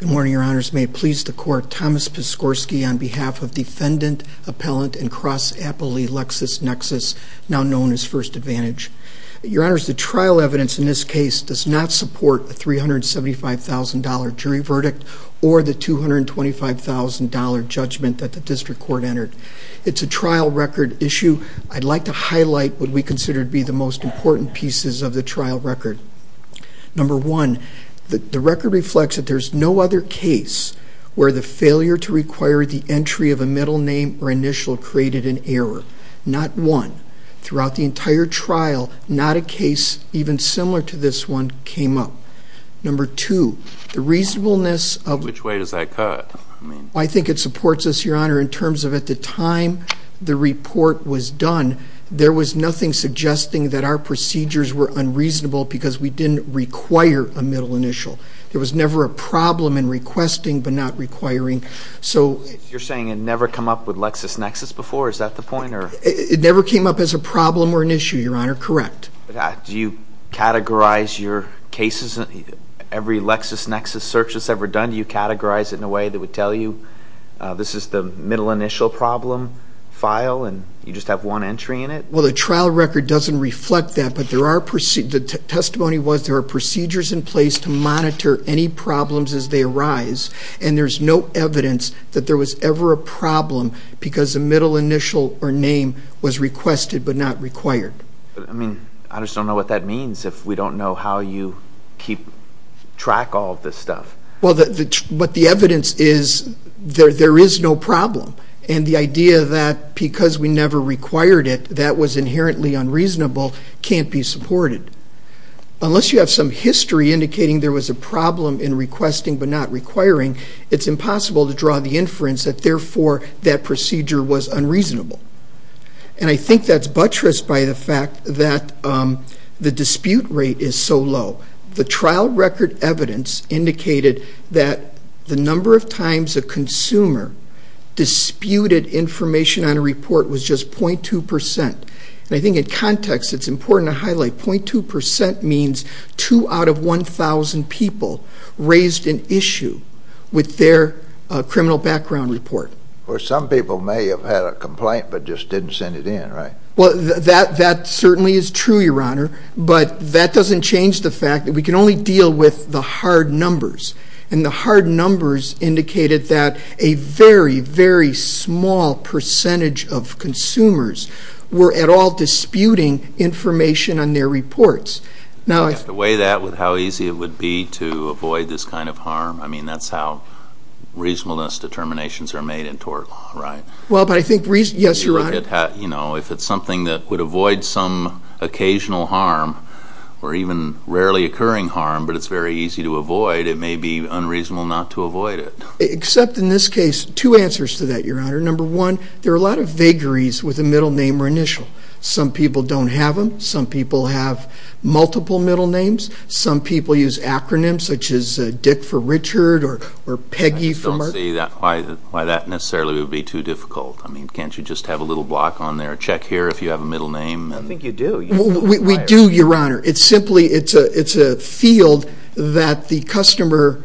Good morning, your honors. May it please the court, Thomas Piskorski on behalf of defendant, appellant, and cross-appellee LexisNexis, now known as First Advantage. Your honors, the trial evidence in this case does not support a $375,000 jury verdict or the $225,000 judgment that the district court entered. It's a trial record issue. I'd like to highlight what we consider to be the most important pieces of the trial record. Number one, the record reflects that there's no other case where the failure to require the entry of a middle name or initial created an error. Not one. Throughout the entire trial, not a case even similar to this one came up. Number two, the reasonableness of... Which way does that cut? I think it supports us, your honor, in terms of at the time the report was done, there was nothing suggesting that our procedures were unreasonable because we didn't require a middle initial. There was never a problem in requesting but not requiring. You're saying it never came up with LexisNexis before? Is that the point? It never came up as a problem or an issue, your honor. Correct. Do you categorize your cases? Every LexisNexis search that's ever done, do you categorize it in a way that would tell you this is the middle initial problem file and you just have one entry in it? Well, the trial record doesn't reflect that, but the testimony was there are procedures in place to monitor any problems as they arise and there's no evidence that there was ever a problem because a middle initial or name was requested but not required. I mean, I just don't know what that means if we don't know how you keep track all of this stuff. Well, but the evidence is there is no problem and the idea that because we never required it, that was inherently unreasonable can't be supported. Unless you have some history indicating there was a problem in requesting but not requiring, it's impossible to draw the inference that therefore that procedure was unreasonable. And I think that's buttressed by the fact that the dispute rate is so low. The trial record evidence indicated that the number of times a consumer disputed information on a And I think in context, it's important to highlight .2% means two out of 1,000 people raised an issue with their criminal background report. Or some people may have had a complaint but just didn't send it in, right? Well, that certainly is true, Your Honor, but that doesn't change the fact that we can only deal with the hard or at all disputing information on their reports. Do I have to weigh that with how easy it would be to avoid this kind of harm? I mean, that's how reasonableness determinations are made in tort law, right? Well, but I think, yes, Your Honor. You know, if it's something that would avoid some occasional harm or even rarely occurring harm but it's very easy to avoid, it may be unreasonable not to avoid it. Except in this case, two answers to that, Your Honor. Number one, there are a lot of vagaries with a middle name or initial. Some people don't have them. Some people have multiple middle names. Some people use acronyms such as Dick for Richard or Peggy for Mark. I just don't see why that necessarily would be too difficult. I mean, can't you just have a little block on there, check here if you have a middle name? I think you do. We do, Your Honor. It's simply, it's a field that the customer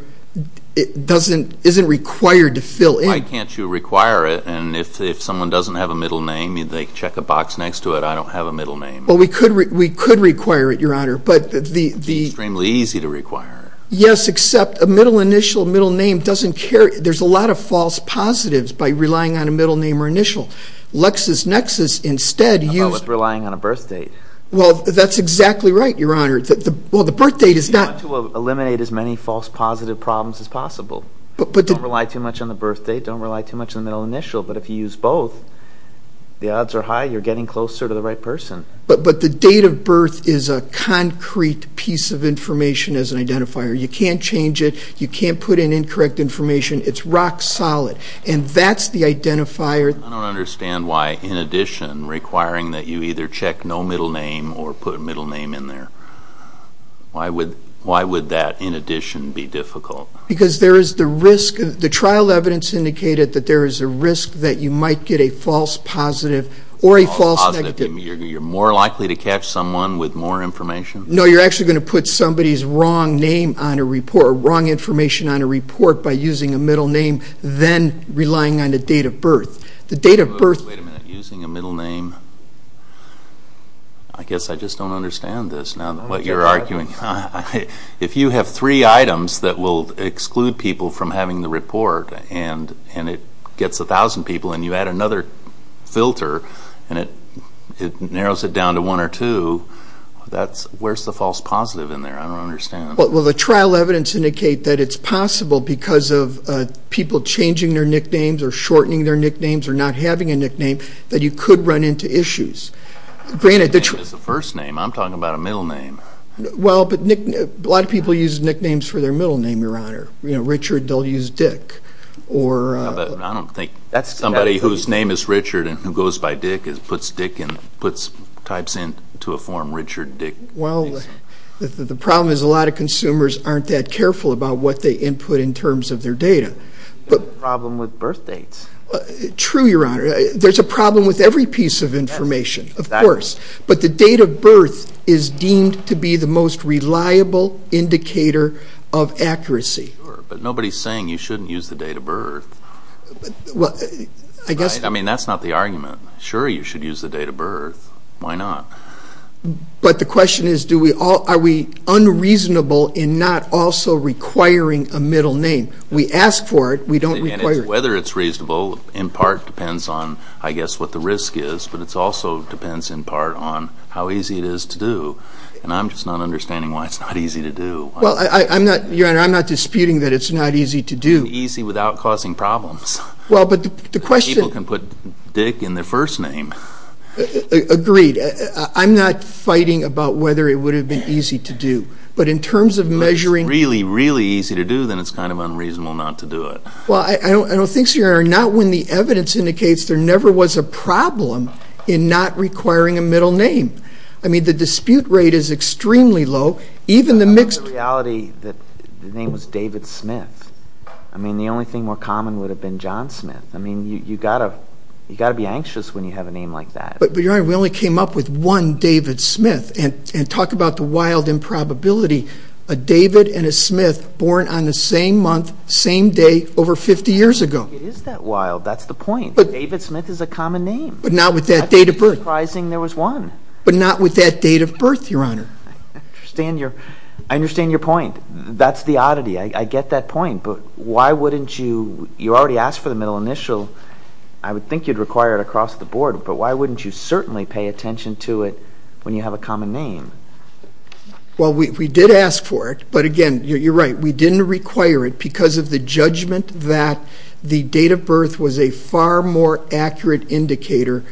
doesn't, isn't required to fill in. Why can't you require it and if someone doesn't have a middle name and they check a box next to it, I don't have a middle name? Well, we could require it, Your Honor, but the- It's extremely easy to require. Yes, except a middle initial, middle name doesn't carry, there's a lot of false positives by relying on a middle name or initial. LexisNexis instead used- How about with relying on a birth date? Well, that's exactly right, Your Honor. Well, the birth date is not- You want to eliminate as many false positive problems as possible. Don't rely too much on the birth date, don't rely too much on the middle initial, but if you use both, the odds are high you're getting closer to the right person. But the date of birth is a concrete piece of information as an identifier. You can't change it, you can't put in incorrect information, it's rock solid. And that's the identifier- I don't understand why, in addition, requiring that you either check no middle name or put a middle name in there. Why would that, in addition, be difficult? Because there is the risk, the trial evidence indicated that there is a risk that you might get a false positive or a false negative. You're more likely to catch someone with more information? No, you're actually going to put somebody's wrong name on a report, wrong information on a report by using a middle name, then relying on the date of birth. The date of birth- Wait a minute, using a middle name, I guess I just don't understand this now, what you're arguing. If you have three items that will exclude people from having the report and it gets a thousand people and you add another filter and it narrows it down to one or two, where's the false positive in there, I don't understand. Well, the trial evidence indicate that it's possible because of people changing their nicknames or shortening their nicknames or not having a nickname, that you could run into issues. Granted, the- The name is the first name, I'm talking about a middle name. Well, but a lot of people use nicknames for their middle name, Your Honor. You know, Richard, they'll use Dick or- I don't think somebody whose name is Richard and who goes by Dick puts Dick in, puts types into a form, Richard, Dick. Well, the problem is a lot of consumers aren't that careful about what they input in terms of their data, but- Problem with birth dates. True, Your Honor. There's a problem with every piece of information, of course. But the date of birth is deemed to be the most reliable indicator of accuracy. Sure, but nobody's saying you shouldn't use the date of birth. Well, I guess- I mean, that's not the argument. Sure, you should use the date of birth. Why not? But the question is, are we unreasonable in not also requiring a middle name? We ask for it, we don't require it. Whether it's reasonable in part depends on, I guess, what the risk is, but it also depends in part on how easy it is to do. And I'm just not understanding why it's not easy to do. Well, Your Honor, I'm not disputing that it's not easy to do. Easy without causing problems. Well, but the question- People can put Dick in their first name. Agreed. I'm not fighting about whether it would have been easy to do. But in terms of measuring- If it's really, really easy to do, then it's kind of unreasonable not to do it. Well, I don't think so, Your Honor. Not when the evidence indicates there never was a problem in not requiring a middle name. I mean, the dispute rate is extremely low. Even the mixed- The reality that the name was David Smith. I mean, the only thing more common would have been John Smith. I mean, you gotta be anxious when you have a name like that. But, Your Honor, we only came up with one David Smith, and talk about the wild improbability. A David and a Smith born on the same month, same day, over 50 years ago. It is that wild. That's the point. David Smith is a common name. But not with that date of birth. That's not surprising there was one. But not with that date of birth, Your Honor. I understand your point. That's the oddity. I get that point. But why wouldn't you- You already asked for the middle initial. I would think you'd require it across the board. But why wouldn't you certainly pay attention to it when you have a common name? Well, we did ask for it. But again, you're right. We didn't require it because of the judgment that the date of birth was a far more accurate indicator.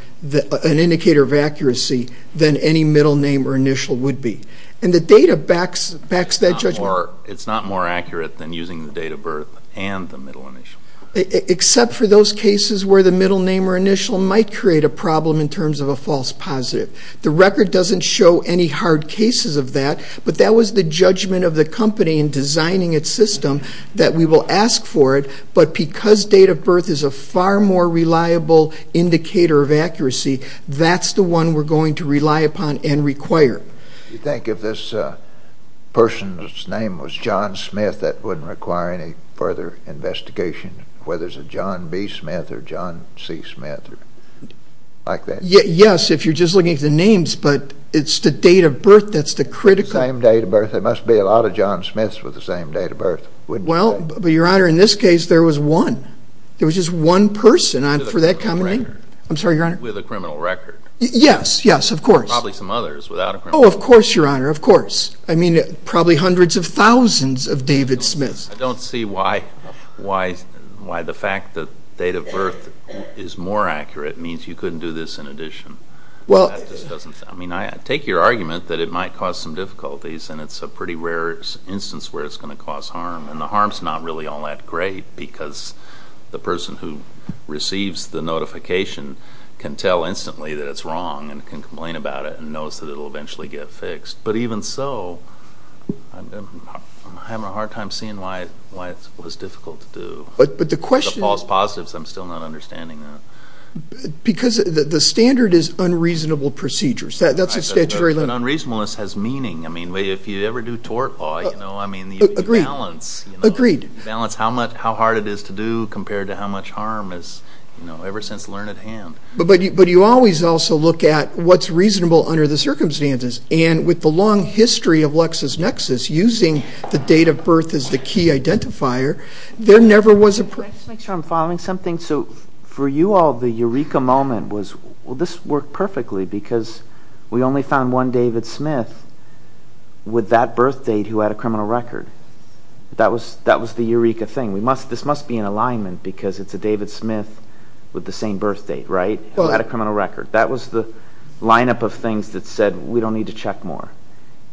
An indicator of accuracy than any middle name or initial would be. And the data backs that judgment. It's not more accurate than using the date of birth and the middle initial. Except for those cases where the middle name or initial might create a problem in terms of a false positive. The record doesn't show any hard cases of that. But that was the judgment of the company in designing its system that we will ask for it. But because date of birth is a far more reliable indicator of accuracy, that's the one we're going to rely upon and require. You think if this person's name was John Smith, that wouldn't require any further investigation? Whether it's a John B. Smith or John C. Smith? Like that? Yes, if you're just looking at the names. But it's the date of birth that's the critical. Same date of birth. There must be a lot of John Smiths with the same date of birth. Well, but your honor, in this case, there was one. There was just one person for that company. I'm sorry, your honor. With a criminal record. Yes, yes, of course. Probably some others without a criminal record. Oh, of course, your honor. Of course. I mean, probably hundreds of thousands of David Smiths. I don't see why the fact that date of birth is more accurate means you couldn't do this in addition. Well. I mean, I take your argument that it might cause some difficulties and it's a pretty rare instance where it's going to cause harm. And the harm's not really all that great because the person who receives the notification can tell instantly that it's wrong and can complain about it and knows that it'll eventually get fixed. But even so, I'm having a hard time seeing why it was difficult to do. But the question. The false positives, I'm still not understanding that. Because the standard is unreasonable procedures. That's a statutory limit. But unreasonableness has meaning. I mean, if you ever do tort law, you know, I mean, you balance. Agreed. You balance how hard it is to do compared to how much harm is, you know, ever since learned at hand. But you always also look at what's reasonable under the circumstances. And with the long history of LexisNexis, using the date of birth as the key identifier, there never was a. Can I just make sure I'm following something? So for you all, the Eureka moment was, well, this worked perfectly because we only found one David Smith with that birth date who had a criminal record. That was the Eureka thing. We must. This must be an alignment because it's a David Smith with the same birth date, right, who had a criminal record. That was the lineup of things that said, we don't need to check more.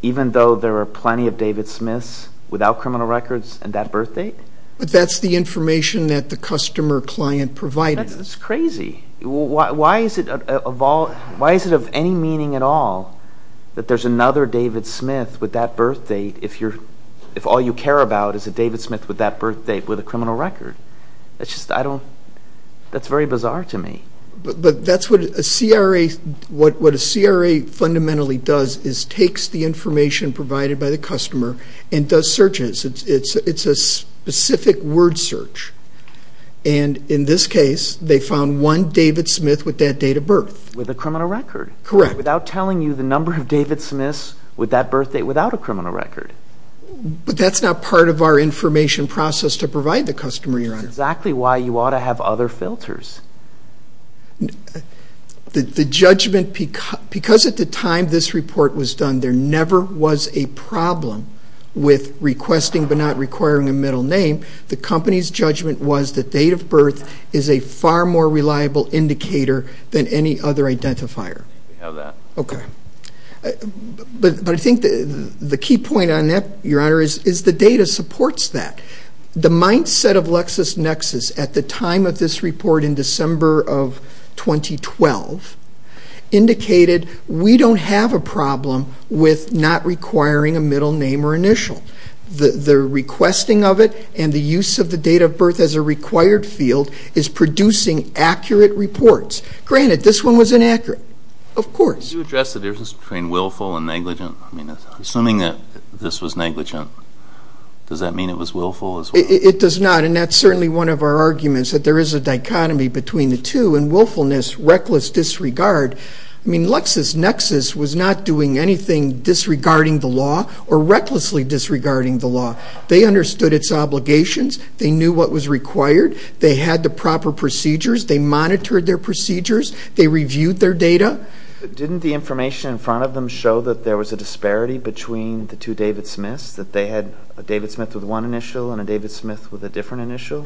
Even though there are plenty of David Smiths without criminal records and that birth date. But that's the information that the customer client provided. That's crazy. Why is it of any meaning at all that there's another David Smith with that birth date if all you care about is a David Smith with that birth date with a criminal record? That's just, I don't, that's very bizarre to me. But that's what a CRA, what a CRA fundamentally does is takes the information provided by the customer and does searches. It's a specific word search. And in this case, they found one David Smith with that date of birth. With a criminal record. Correct. Without telling you the number of David Smiths with that birth date without a criminal record. But that's not part of our information process to provide the customer, Your Honor. Exactly why you ought to have other filters. The judgment, because at the time this report was done, there never was a problem with requesting but not requiring a middle name. The company's judgment was the date of birth is a far more reliable indicator than any other identifier. We have that. Okay. But I think the key point on that, Your Honor, is the data supports that. The mindset of LexisNexis at the time of this report in December of 2012 indicated we don't have a problem with not requiring a middle name or initial. The requesting of it and the use of the date of birth as a required field is producing accurate reports. Granted, this one was inaccurate. Of course. Can you address the difference between willful and negligent? Assuming that this was negligent, does that mean it was willful as well? It does not, and that's certainly one of our arguments, that there is a dichotomy between the two. And willfulness, reckless disregard, I mean, LexisNexis was not doing anything disregarding the law or recklessly disregarding the law. They understood its obligations. They knew what was required. They had the proper procedures. They monitored their procedures. They reviewed their data. Didn't the information in front of them show that there was a disparity between the two David Smiths, that they had a David Smith with one initial and a David Smith with a different initial?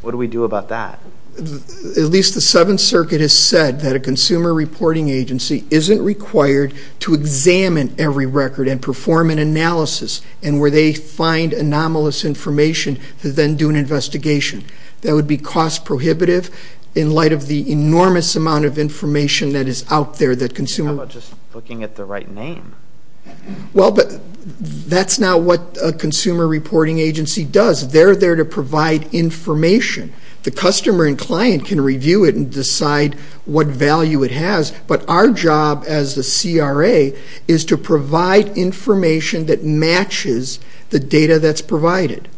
What do we do about that? At least the Seventh Circuit has said that a consumer reporting agency isn't required to examine every record and perform an analysis, and where they find anomalous information to then do an investigation. That would be cost prohibitive in light of the enormous amount of information that is out there that consumer... How about just looking at the right name? Well, but that's not what a consumer reporting agency does. They're there to provide information. The customer and client can review it and decide what value it has, but our job as the CRA is to provide information that matches the data that's provided.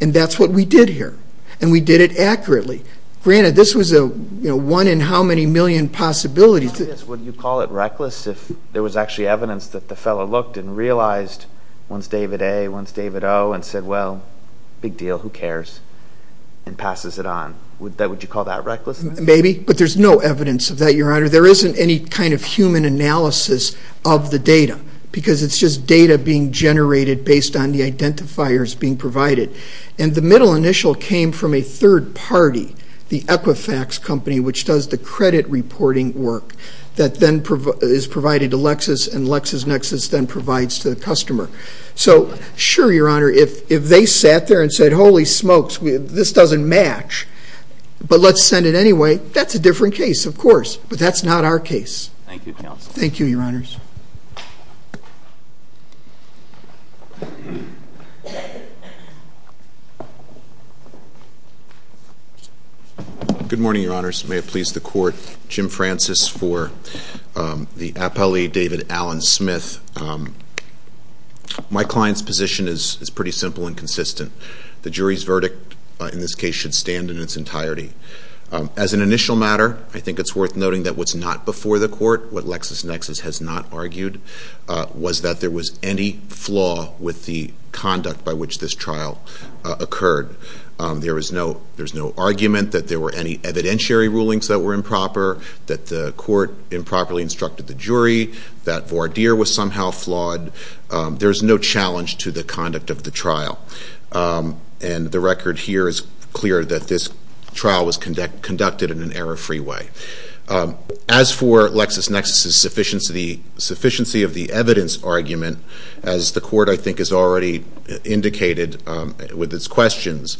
And that's what we did here, and we did it accurately. Granted, this was a one in how many million possibility to... Yes, would you call it reckless if there was actually evidence that the fellow looked and realized one's David A., one's David O., and said, well, big deal, who cares, and passes it on? Would you call that reckless? Maybe, but there's no evidence of that, Your Honor. There isn't any kind of human analysis of the data, because it's just data being generated based on the identifiers being provided. And the middle initial came from a third party, the Equifax company, which does the credit reporting work that then is provided to Lexis, and LexisNexis then provides to the customer. So sure, Your Honor, if they sat there and said, holy smokes, this doesn't match, but let's send it anyway, that's a different case, of course. But that's not our case. Thank you, counsel. Thank you, Your Honors. Good morning, Your Honors. May it please the court. Jim Francis for the appellee, David Allen Smith. My client's position is pretty simple and consistent. The jury's verdict, in this case, should stand in its entirety. As an initial matter, I think it's worth noting that what's not before the court, what LexisNexis has not argued, was that there was any flaw with the conduct by which this trial occurred. There's no argument that there were any evidentiary rulings that were improper, that the court improperly instructed the jury, that Vardir was somehow flawed. There's no challenge to the conduct of the trial. And the record here is clear that this trial was conducted in an error-free way. As for LexisNexis' sufficiency of the evidence argument, as the court, I think, has already indicated with its questions,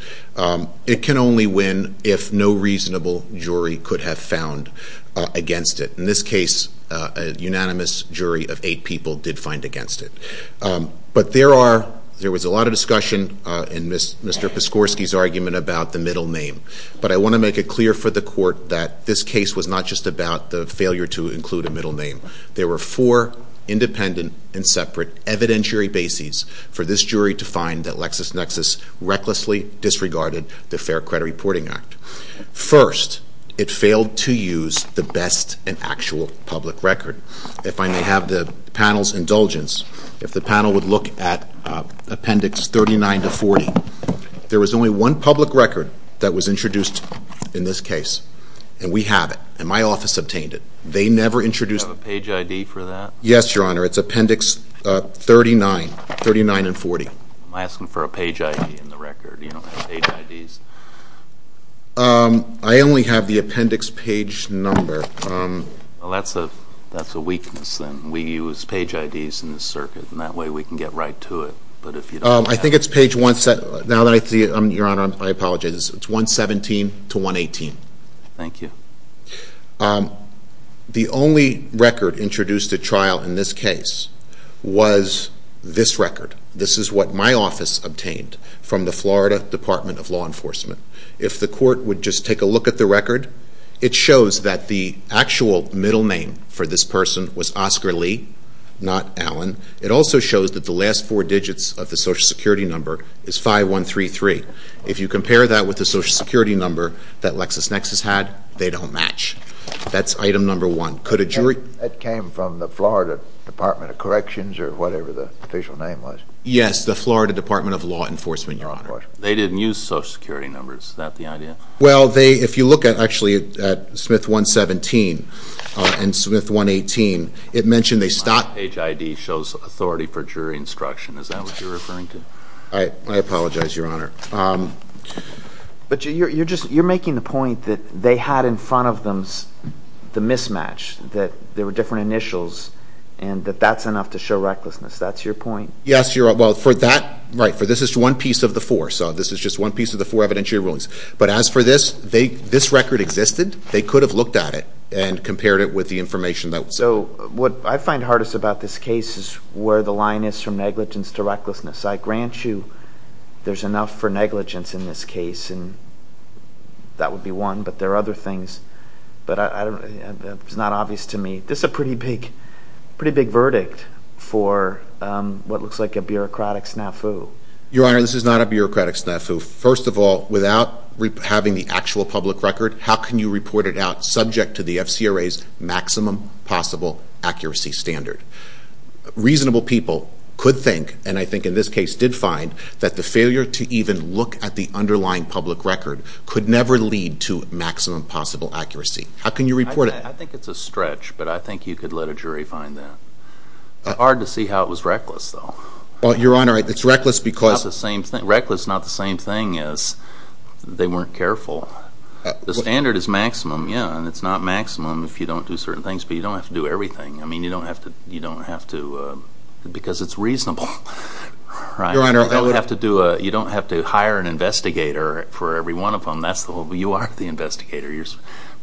it can only win if no reasonable jury could have found against it. In this case, a unanimous jury of eight people did find against it. But there was a lot of discussion in Mr. Piskorski's argument about the middle name. But I want to make it clear for the court that this case was not just about the failure to include a middle name. There were four independent and separate evidentiary bases for this jury to find that LexisNexis recklessly disregarded the Fair Credit Reporting Act. First, it failed to use the best and actual public record. If I may have the panel's indulgence, if the panel would look at Appendix 39 to 40. There was only one public record that was introduced in this case, and we have it, and my office obtained it. They never introduced- Do you have a page ID for that? Yes, Your Honor. It's Appendix 39, 39 and 40. I'm asking for a page ID in the record. You don't have page IDs? I only have the appendix page number. Well, that's a weakness then. We use page IDs in this circuit, and that way we can get right to it. But if you don't have- I think it's page one, now that I see it, Your Honor, I apologize. It's 117 to 118. Thank you. The only record introduced at trial in this case was this record. This is what my office obtained from the Florida Department of Law Enforcement. If the court would just take a look at the record, it shows that the actual middle name for this person was Oscar Lee, not Allen. It also shows that the last four digits of the Social Security number is 5133. If you compare that with the Social Security number that LexisNexis had, they don't match. That's item number one. Could a jury- That came from the Florida Department of Corrections or whatever the official name was. Yes, the Florida Department of Law Enforcement, Your Honor. They didn't use Social Security numbers. Is that the idea? Well, if you look actually at Smith 117 and Smith 118, it mentioned they stopped- Page ID shows authority for jury instruction. Is that what you're referring to? I apologize, Your Honor. But you're making the point that they had in front of them the mismatch, that there were different initials, and that that's enough to show recklessness. That's your point? Yes. Well, for that, right, for this is one piece of the four. So this is just one piece of the four evidentiary rulings. But as for this, this record existed. They could have looked at it and compared it with the information that was- So what I find hardest about this case is where the line is from negligence to recklessness. I grant you there's enough for negligence in this case, and that would be one. But there are other things, but it's not obvious to me. This is a pretty big verdict for what looks like a bureaucratic snafu. Your Honor, this is not a bureaucratic snafu. First of all, without having the actual public record, how can you report it out subject to the FCRA's maximum possible accuracy standard? Reasonable people could think, and I think in this case did find, that the failure to even look at the underlying public record could never lead to maximum possible accuracy. How can you report it? I think it's a stretch, but I think you could let a jury find that. It's hard to see how it was reckless, though. Well, Your Honor, it's reckless because- It's not the same thing. Reckless is not the same thing as they weren't careful. The standard is maximum, yeah, and it's not maximum if you don't do certain things. But you don't have to do everything. I mean, you don't have to- because it's reasonable, right? Your Honor, that would- You don't have to hire an investigator for every one of them. That's the whole- you are the investigator,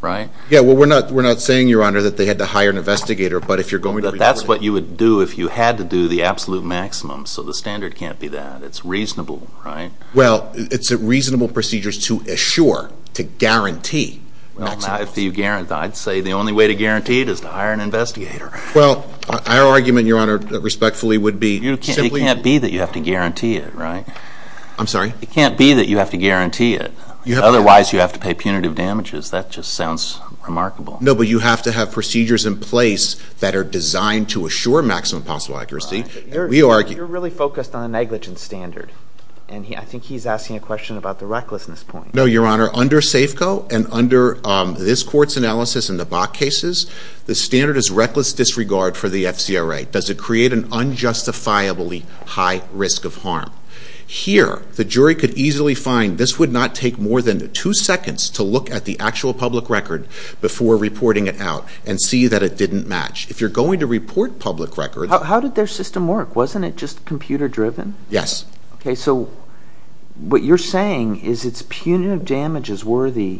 right? Yeah, well, we're not saying, Your Honor, that they had to hire an investigator, but if you're going to- That's what you would do if you had to do the absolute maximum, so the standard can't be that. It's reasonable, right? Well, it's a reasonable procedure to assure, to guarantee- Well, not if you guarantee. I'd say the only way to guarantee it is to hire an investigator. Well, our argument, Your Honor, respectfully, would be- It can't be that you have to guarantee it, right? I'm sorry? It can't be that you have to guarantee it. Otherwise, you have to pay punitive damages. That just sounds remarkable. No, but you have to have procedures in place that are designed to assure maximum possible accuracy. We argue- You're really focused on the negligence standard, and I think he's asking a question about the recklessness point. No, Your Honor. Under SAFCO and under this Court's analysis and the Bok cases, the standard is reckless disregard for the FCRA. Does it create an unjustifiably high risk of harm? Here, the jury could easily find this would not take more than two seconds to look at the actual public record before reporting it out and see that it didn't match. If you're going to report public records- How did their system work? Wasn't it just computer driven? Yes. Okay, so what you're saying is it's punitive damages worthy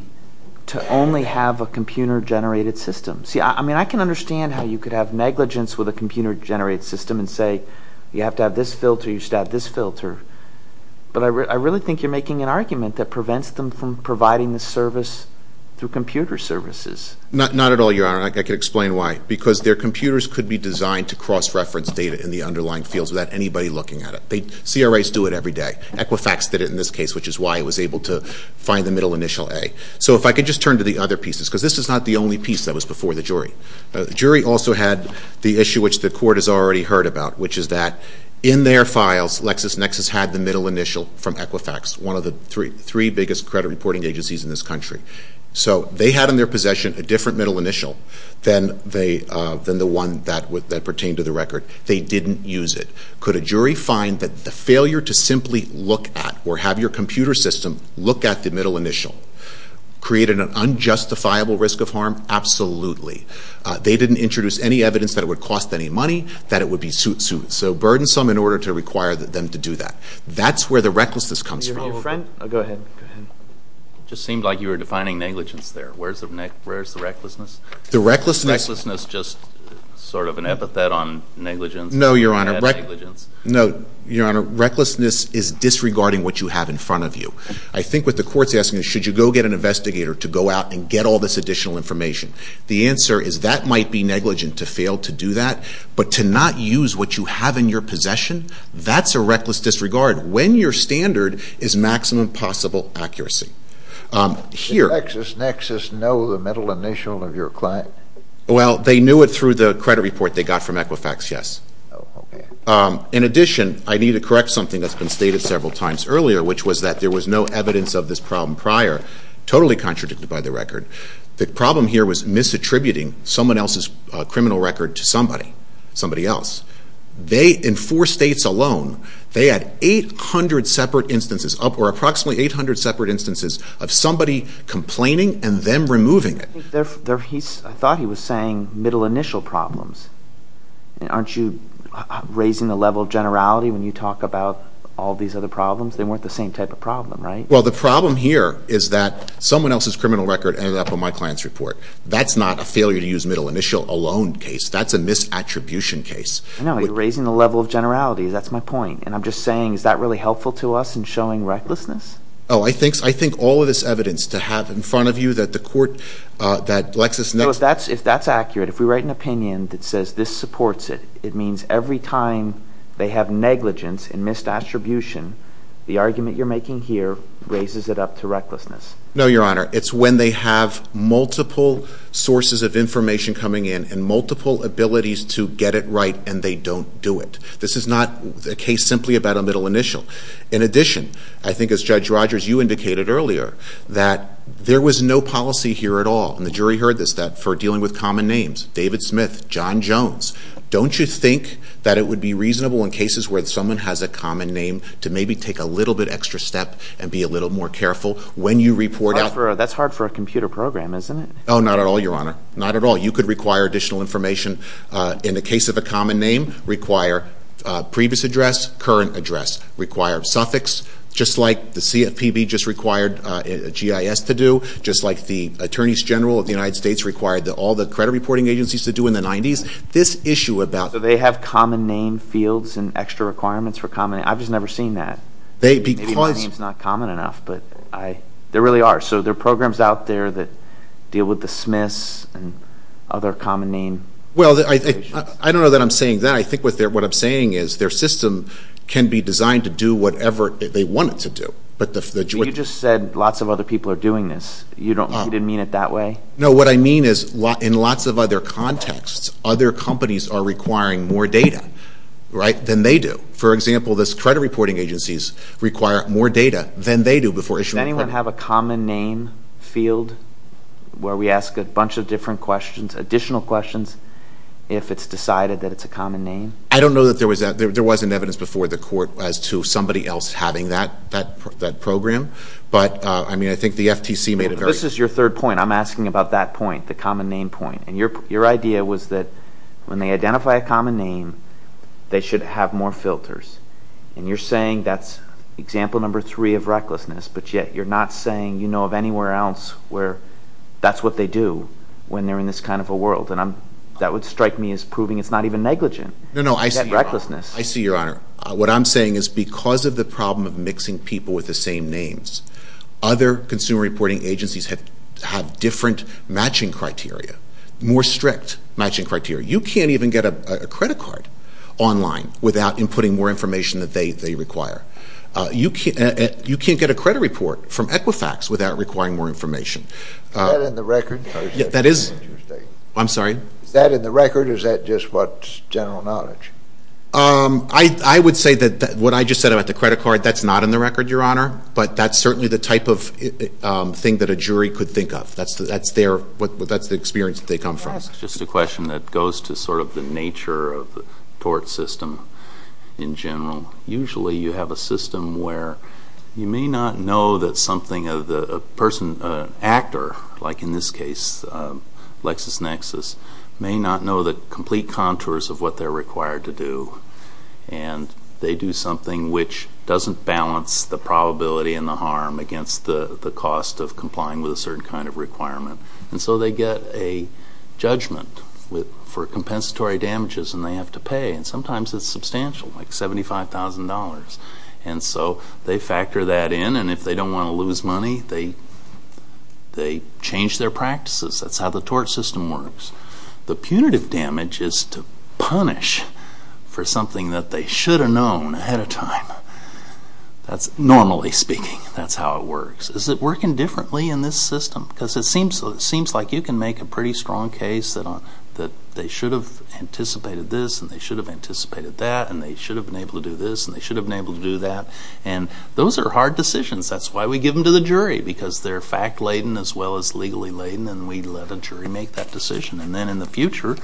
to only have a computer generated system. See, I mean, I can understand how you could have negligence with a computer generated system and say, you have to have this filter, you should have this filter. But I really think you're making an argument that prevents them from providing this service through computer services. Not at all, Your Honor, and I can explain why. Because their computers could be designed to cross-reference data in the underlying fields without anybody looking at it. CRAs do it every day. Equifax did it in this case, which is why it was able to find the middle initial A. So if I could just turn to the other pieces, because this is not the only piece that was before the jury. The jury also had the issue which the court has already heard about, which is that in their files, LexisNexis had the middle initial from Equifax, one of the three biggest credit reporting agencies in this country. So they had in their possession a different middle initial than the one that pertained to the record. They didn't use it. Could a jury find that the failure to simply look at or have your computer system look at the middle initial created an unjustifiable risk of harm? Absolutely. They didn't introduce any evidence that it would cost any money, that it would be suit suit. So burdensome in order to require them to do that. That's where the recklessness comes from. Your friend, go ahead, go ahead. Just seemed like you were defining negligence there. Where's the recklessness? The recklessness- Is recklessness just sort of an epithet on negligence? No, Your Honor. An epithet on negligence. No, Your Honor. Recklessness is disregarding what you have in front of you. I think what the court's asking is should you go get an investigator to go out and get all this additional information? The answer is that might be negligent to fail to do that. But to not use what you have in your possession, that's a reckless disregard. When your standard is maximum possible accuracy. Does LexisNexis know the middle initial of your client? Well, they knew it through the credit report they got from Equifax, yes. In addition, I need to correct something that's been stated several times earlier, which was that there was no evidence of this problem prior. Totally contradicted by the record. The problem here was misattributing someone else's criminal record to somebody. Somebody else. They, in four states alone, they had 800 separate instances, or approximately 800 separate instances of somebody complaining and them removing it. I thought he was saying middle initial problems. Aren't you raising the level of generality when you talk about all these other problems? They weren't the same type of problem, right? Well, the problem here is that someone else's criminal record ended up on my client's report. That's not a failure to use middle initial alone case. That's a misattribution case. No, you're raising the level of generality. That's my point. And I'm just saying, is that really helpful to us in showing recklessness? Oh, I think all of this evidence to have in front of you that the court, that LexisNexis... So if that's accurate, if we write an opinion that says this supports it, it means every time they have negligence and misattribution, the argument you're making here raises it up to recklessness. No, your honor. It's when they have multiple sources of information coming in and multiple abilities to get it right and they don't do it. This is not a case simply about a middle initial. In addition, I think as Judge Rogers, you indicated earlier that there was no policy here at all. And the jury heard this, that for dealing with common names, David Smith, John Jones, don't you think that it would be reasonable in cases where someone has a common name to maybe take a little bit extra step and be a little more careful when you report out... That's hard for a computer program, isn't it? Oh, not at all, your honor. Not at all. You could require additional information in the case of a common name, require previous address, current address, require suffix, just like the CFPB just required GIS to do, just like the attorneys general of the United States required all the credit reporting agencies to do in the 90s. This issue about... So they have common name fields and extra requirements for common names? I've just never seen that. Maybe my name's not common enough, but there really are. So there are programs out there that deal with the Smiths and other common name... Well, I don't know that I'm saying that. I think what I'm saying is their system can be designed to do whatever they want it to do. You just said lots of other people are doing this. You didn't mean it that way? No, what I mean is in lots of other contexts, other companies are requiring more data than they do. For example, this credit reporting agencies require more data than they do before issuing a claim. Does anyone have a common name field where we ask a bunch of different questions, additional questions, if it's decided that it's a common name? I don't know that there was... There was an evidence before the court as to somebody else having that program, but I think the FTC made a very... This is your third point. I'm asking about that point, the common name point. Your idea was that when they identify a common name, they should have more filters. You're saying that's example number three of recklessness, but yet you're not saying you know of anywhere else where that's what they do when they're in this kind of a world. That would strike me as proving it's not even negligent. No, no. I see your honor. That recklessness. I see your honor. What I'm saying is because of the problem of mixing people with the same names, other consumer reporting agencies have different matching criteria, more strict matching criteria. You can't even get a credit card online without inputting more information that they require. You can't get a credit report from Equifax without requiring more information. Is that in the record? That is... I'm sorry? Is that in the record or is that just what's general knowledge? I would say that what I just said about the credit card, that's not in the record, your honor, but that's certainly the type of thing that a jury could think of. That's their... That's the experience that they come from. Can I ask just a question that goes to sort of the nature of the tort system in general? Usually you have a system where you may not know that something of the person, an actor, like in this case, LexisNexis, may not know the complete contours of what they're required to do. And they do something which doesn't balance the probability and the harm against the cost of complying with a certain kind of requirement. And so they get a judgment for compensatory damages and they have to pay, and sometimes it's substantial, like $75,000. And so they factor that in and if they don't want to lose money, they change their practices. That's how the tort system works. The punitive damage is to punish for something that they should have known ahead of time. That's normally speaking, that's how it works. Is it working differently in this system? Because it seems like you can make a pretty strong case that they should have anticipated this and they should have anticipated that and they should have been able to do this and they should have been able to do that. And those are hard decisions. That's why we give them to the jury, because they're fact-laden as well as legally laden and we let a jury make that decision. And then in the future,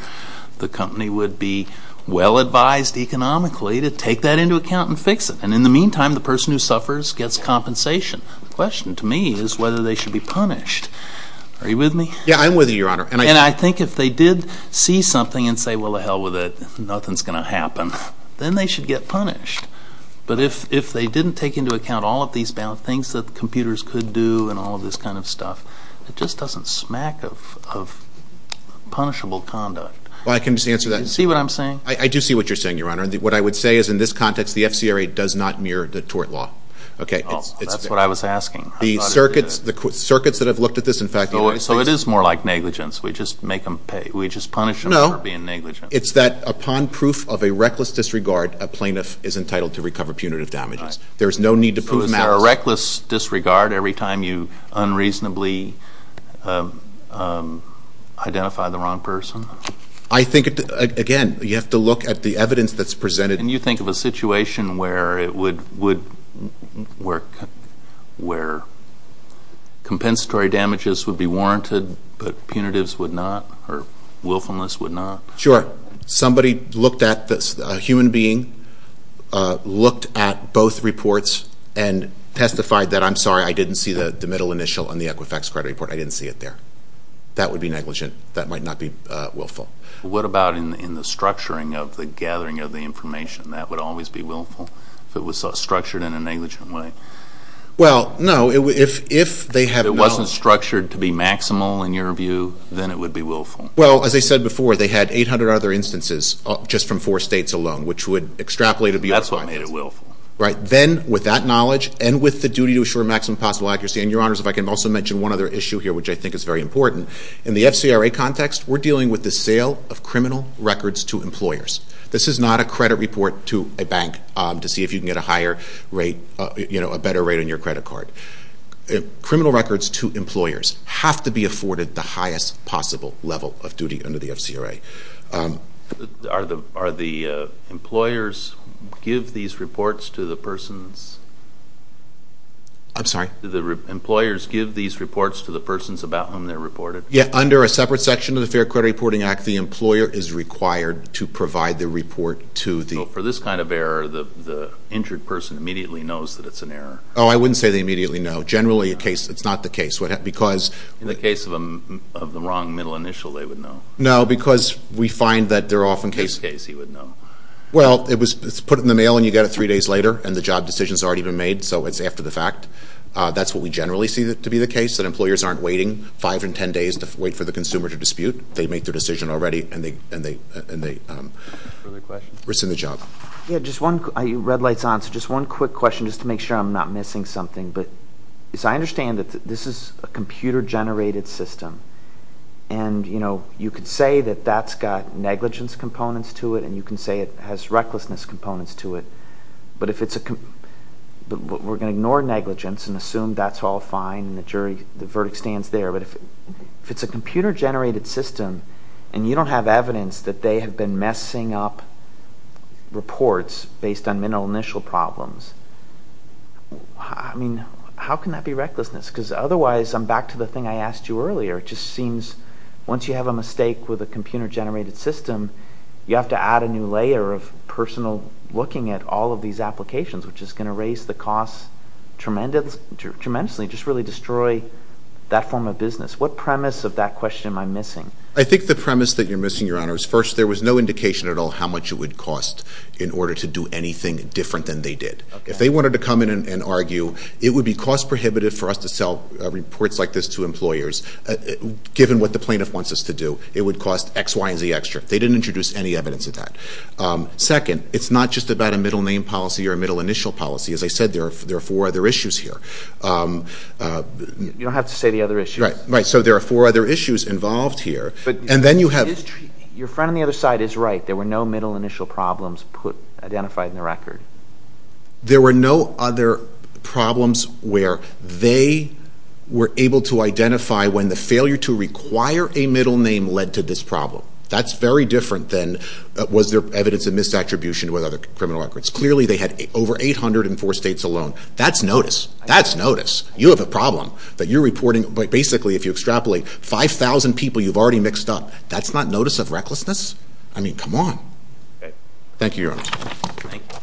the company would be well advised economically to take that into account and fix it. And in the meantime, the person who suffers gets compensation. The question to me is whether they should be punished. Are you with me? Yeah, I'm with you, Your Honor. And I think if they did see something and say, well, to hell with it, nothing's going to happen, then they should get punished. But if they didn't take into account all of these things that the computers could do and all of this kind of stuff, it just doesn't smack of punishable conduct. Well, I can just answer that. See what I'm saying? I do see what you're saying, Your Honor. And what I would say is in this context, the FCRA does not mirror the tort law. Okay. That's what I was asking. The circuits that have looked at this, in fact. So it is more like negligence. We just make them pay. We just punish them for being negligent. It's that upon proof of a reckless disregard, a plaintiff is entitled to recover punitive damages. Right. There's no need to prove them out. So is there a reckless disregard every time you unreasonably identify the wrong person? I think, again, you have to look at the evidence that's presented. Can you think of a situation where it would, where compensatory damages would be warranted but punitives would not or willfulness would not? Sure. Somebody looked at this. A human being looked at both reports and testified that, I'm sorry, I didn't see the middle initial on the Equifax credit report. I didn't see it there. That would be negligent. That might not be willful. What about in the structuring of the gathering of the information? That would always be willful? If it was structured in a negligent way? Well, no. If it wasn't structured to be maximal, in your view, then it would be willful. Well, as I said before, they had 800 other instances just from four states alone, which would extrapolate to be willful. Then with that knowledge and with the duty to assure maximum possible accuracy, and your honors, if I can also mention one other issue here, which I think is very important. In the FCRA context, we're dealing with the sale of criminal records to employers. This is not a credit report to a bank to see if you can get a higher rate, a better rate on your credit card. But criminal records to employers have to be afforded the highest possible level of duty under the FCRA. Are the employers give these reports to the persons about whom they're reported? Yeah. Under a separate section of the Fair Credit Reporting Act, the employer is required to provide the report to the— For this kind of error, the injured person immediately knows that it's an error. Oh, I wouldn't say they immediately know. Generally it's not the case. In the case of the wrong middle initial, they would know. No, because we find that they're often— In this case, he would know. Well, it's put in the mail and you get it three days later, and the job decision's already been made, so it's after the fact. That's what we generally see to be the case, that employers aren't waiting five and ten days to wait for the consumer to dispute. They make their decision already, and they rescind the job. Red lights on. Just one quick question, just to make sure I'm not missing something, but I understand that this is a computer-generated system, and you could say that that's got negligence components to it, and you can say it has recklessness components to it, but we're going to ignore negligence and assume that's all fine and the verdict stands there, but if it's a computer-generated system and you don't have evidence that they have been messing up reports based on minimal initial problems, I mean, how can that be recklessness? Because otherwise, I'm back to the thing I asked you earlier, it just seems once you have a mistake with a computer-generated system, you have to add a new layer of personal looking at all of these applications, which is going to raise the cost tremendously, just really destroy that form of business. What premise of that question am I missing? I think the premise that you're missing, Your Honor, is first, there was no indication at all how much it would cost in order to do anything different than they did. If they wanted to come in and argue, it would be cost-prohibitive for us to sell reports like this to employers, given what the plaintiff wants us to do, it would cost X, Y, and Z extra. They didn't introduce any evidence of that. Second, it's not just about a middle name policy or a middle initial policy. As I said, there are four other issues here. You don't have to say the other issues. Right, right. So there are four other issues involved here, and then you have... Your friend on the other side is right. There were no middle initial problems identified in the record. There were no other problems where they were able to identify when the failure to require a middle name led to this problem. That's very different than was there evidence of misattribution with other criminal records. Clearly they had over 804 states alone. That's notice. That's notice. You have a problem that you're reporting, but basically if you extrapolate, 5,000 people you've already mixed up. That's not notice of recklessness? I mean, come on. Thank you, Your Honor. Thank you.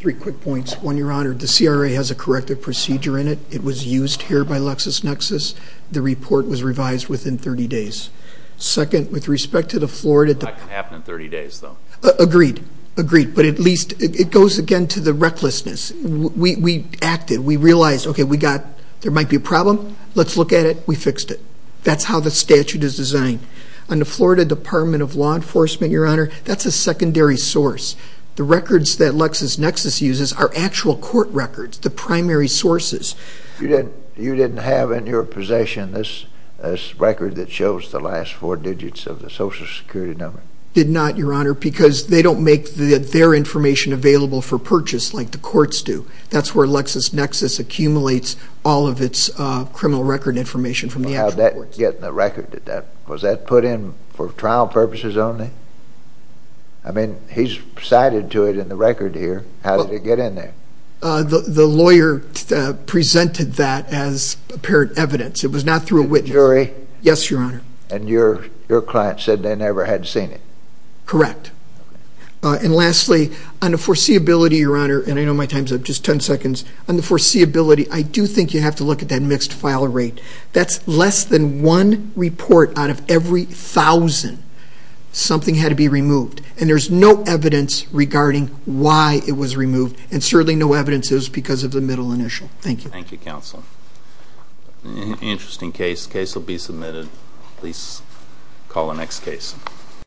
Three quick points. One, Your Honor, the CRA has a corrective procedure in it. It was used here by LexisNexis. The report was revised within 30 days. Second, with respect to the Florida... That can happen in 30 days, though. Agreed. Agreed. But at least it goes again to the recklessness. We acted. We acted. We realized, okay, we got... There might be a problem. Let's look at it. We fixed it. That's how the statute is designed. On the Florida Department of Law Enforcement, Your Honor, that's a secondary source. The records that LexisNexis uses are actual court records, the primary sources. You didn't have in your possession this record that shows the last four digits of the Social Security number? Did not, Your Honor, because they don't make their information available for purchase like the courts do. That's where LexisNexis accumulates all of its criminal record information from the actual courts. How did that get in the record? Was that put in for trial purposes only? I mean, he's cited to it in the record here. How did it get in there? The lawyer presented that as apparent evidence. It was not through a witness. A jury? Yes, Your Honor. And your client said they never had seen it? Correct. And lastly, on the foreseeability, Your Honor, and I know my time's up, just 10 seconds. On the foreseeability, I do think you have to look at that mixed file rate. That's less than one report out of every thousand. Something had to be removed. And there's no evidence regarding why it was removed, and certainly no evidence is because of the middle initial. Thank you. Thank you, Counsel. Interesting case. The case will be submitted. Please call the next case.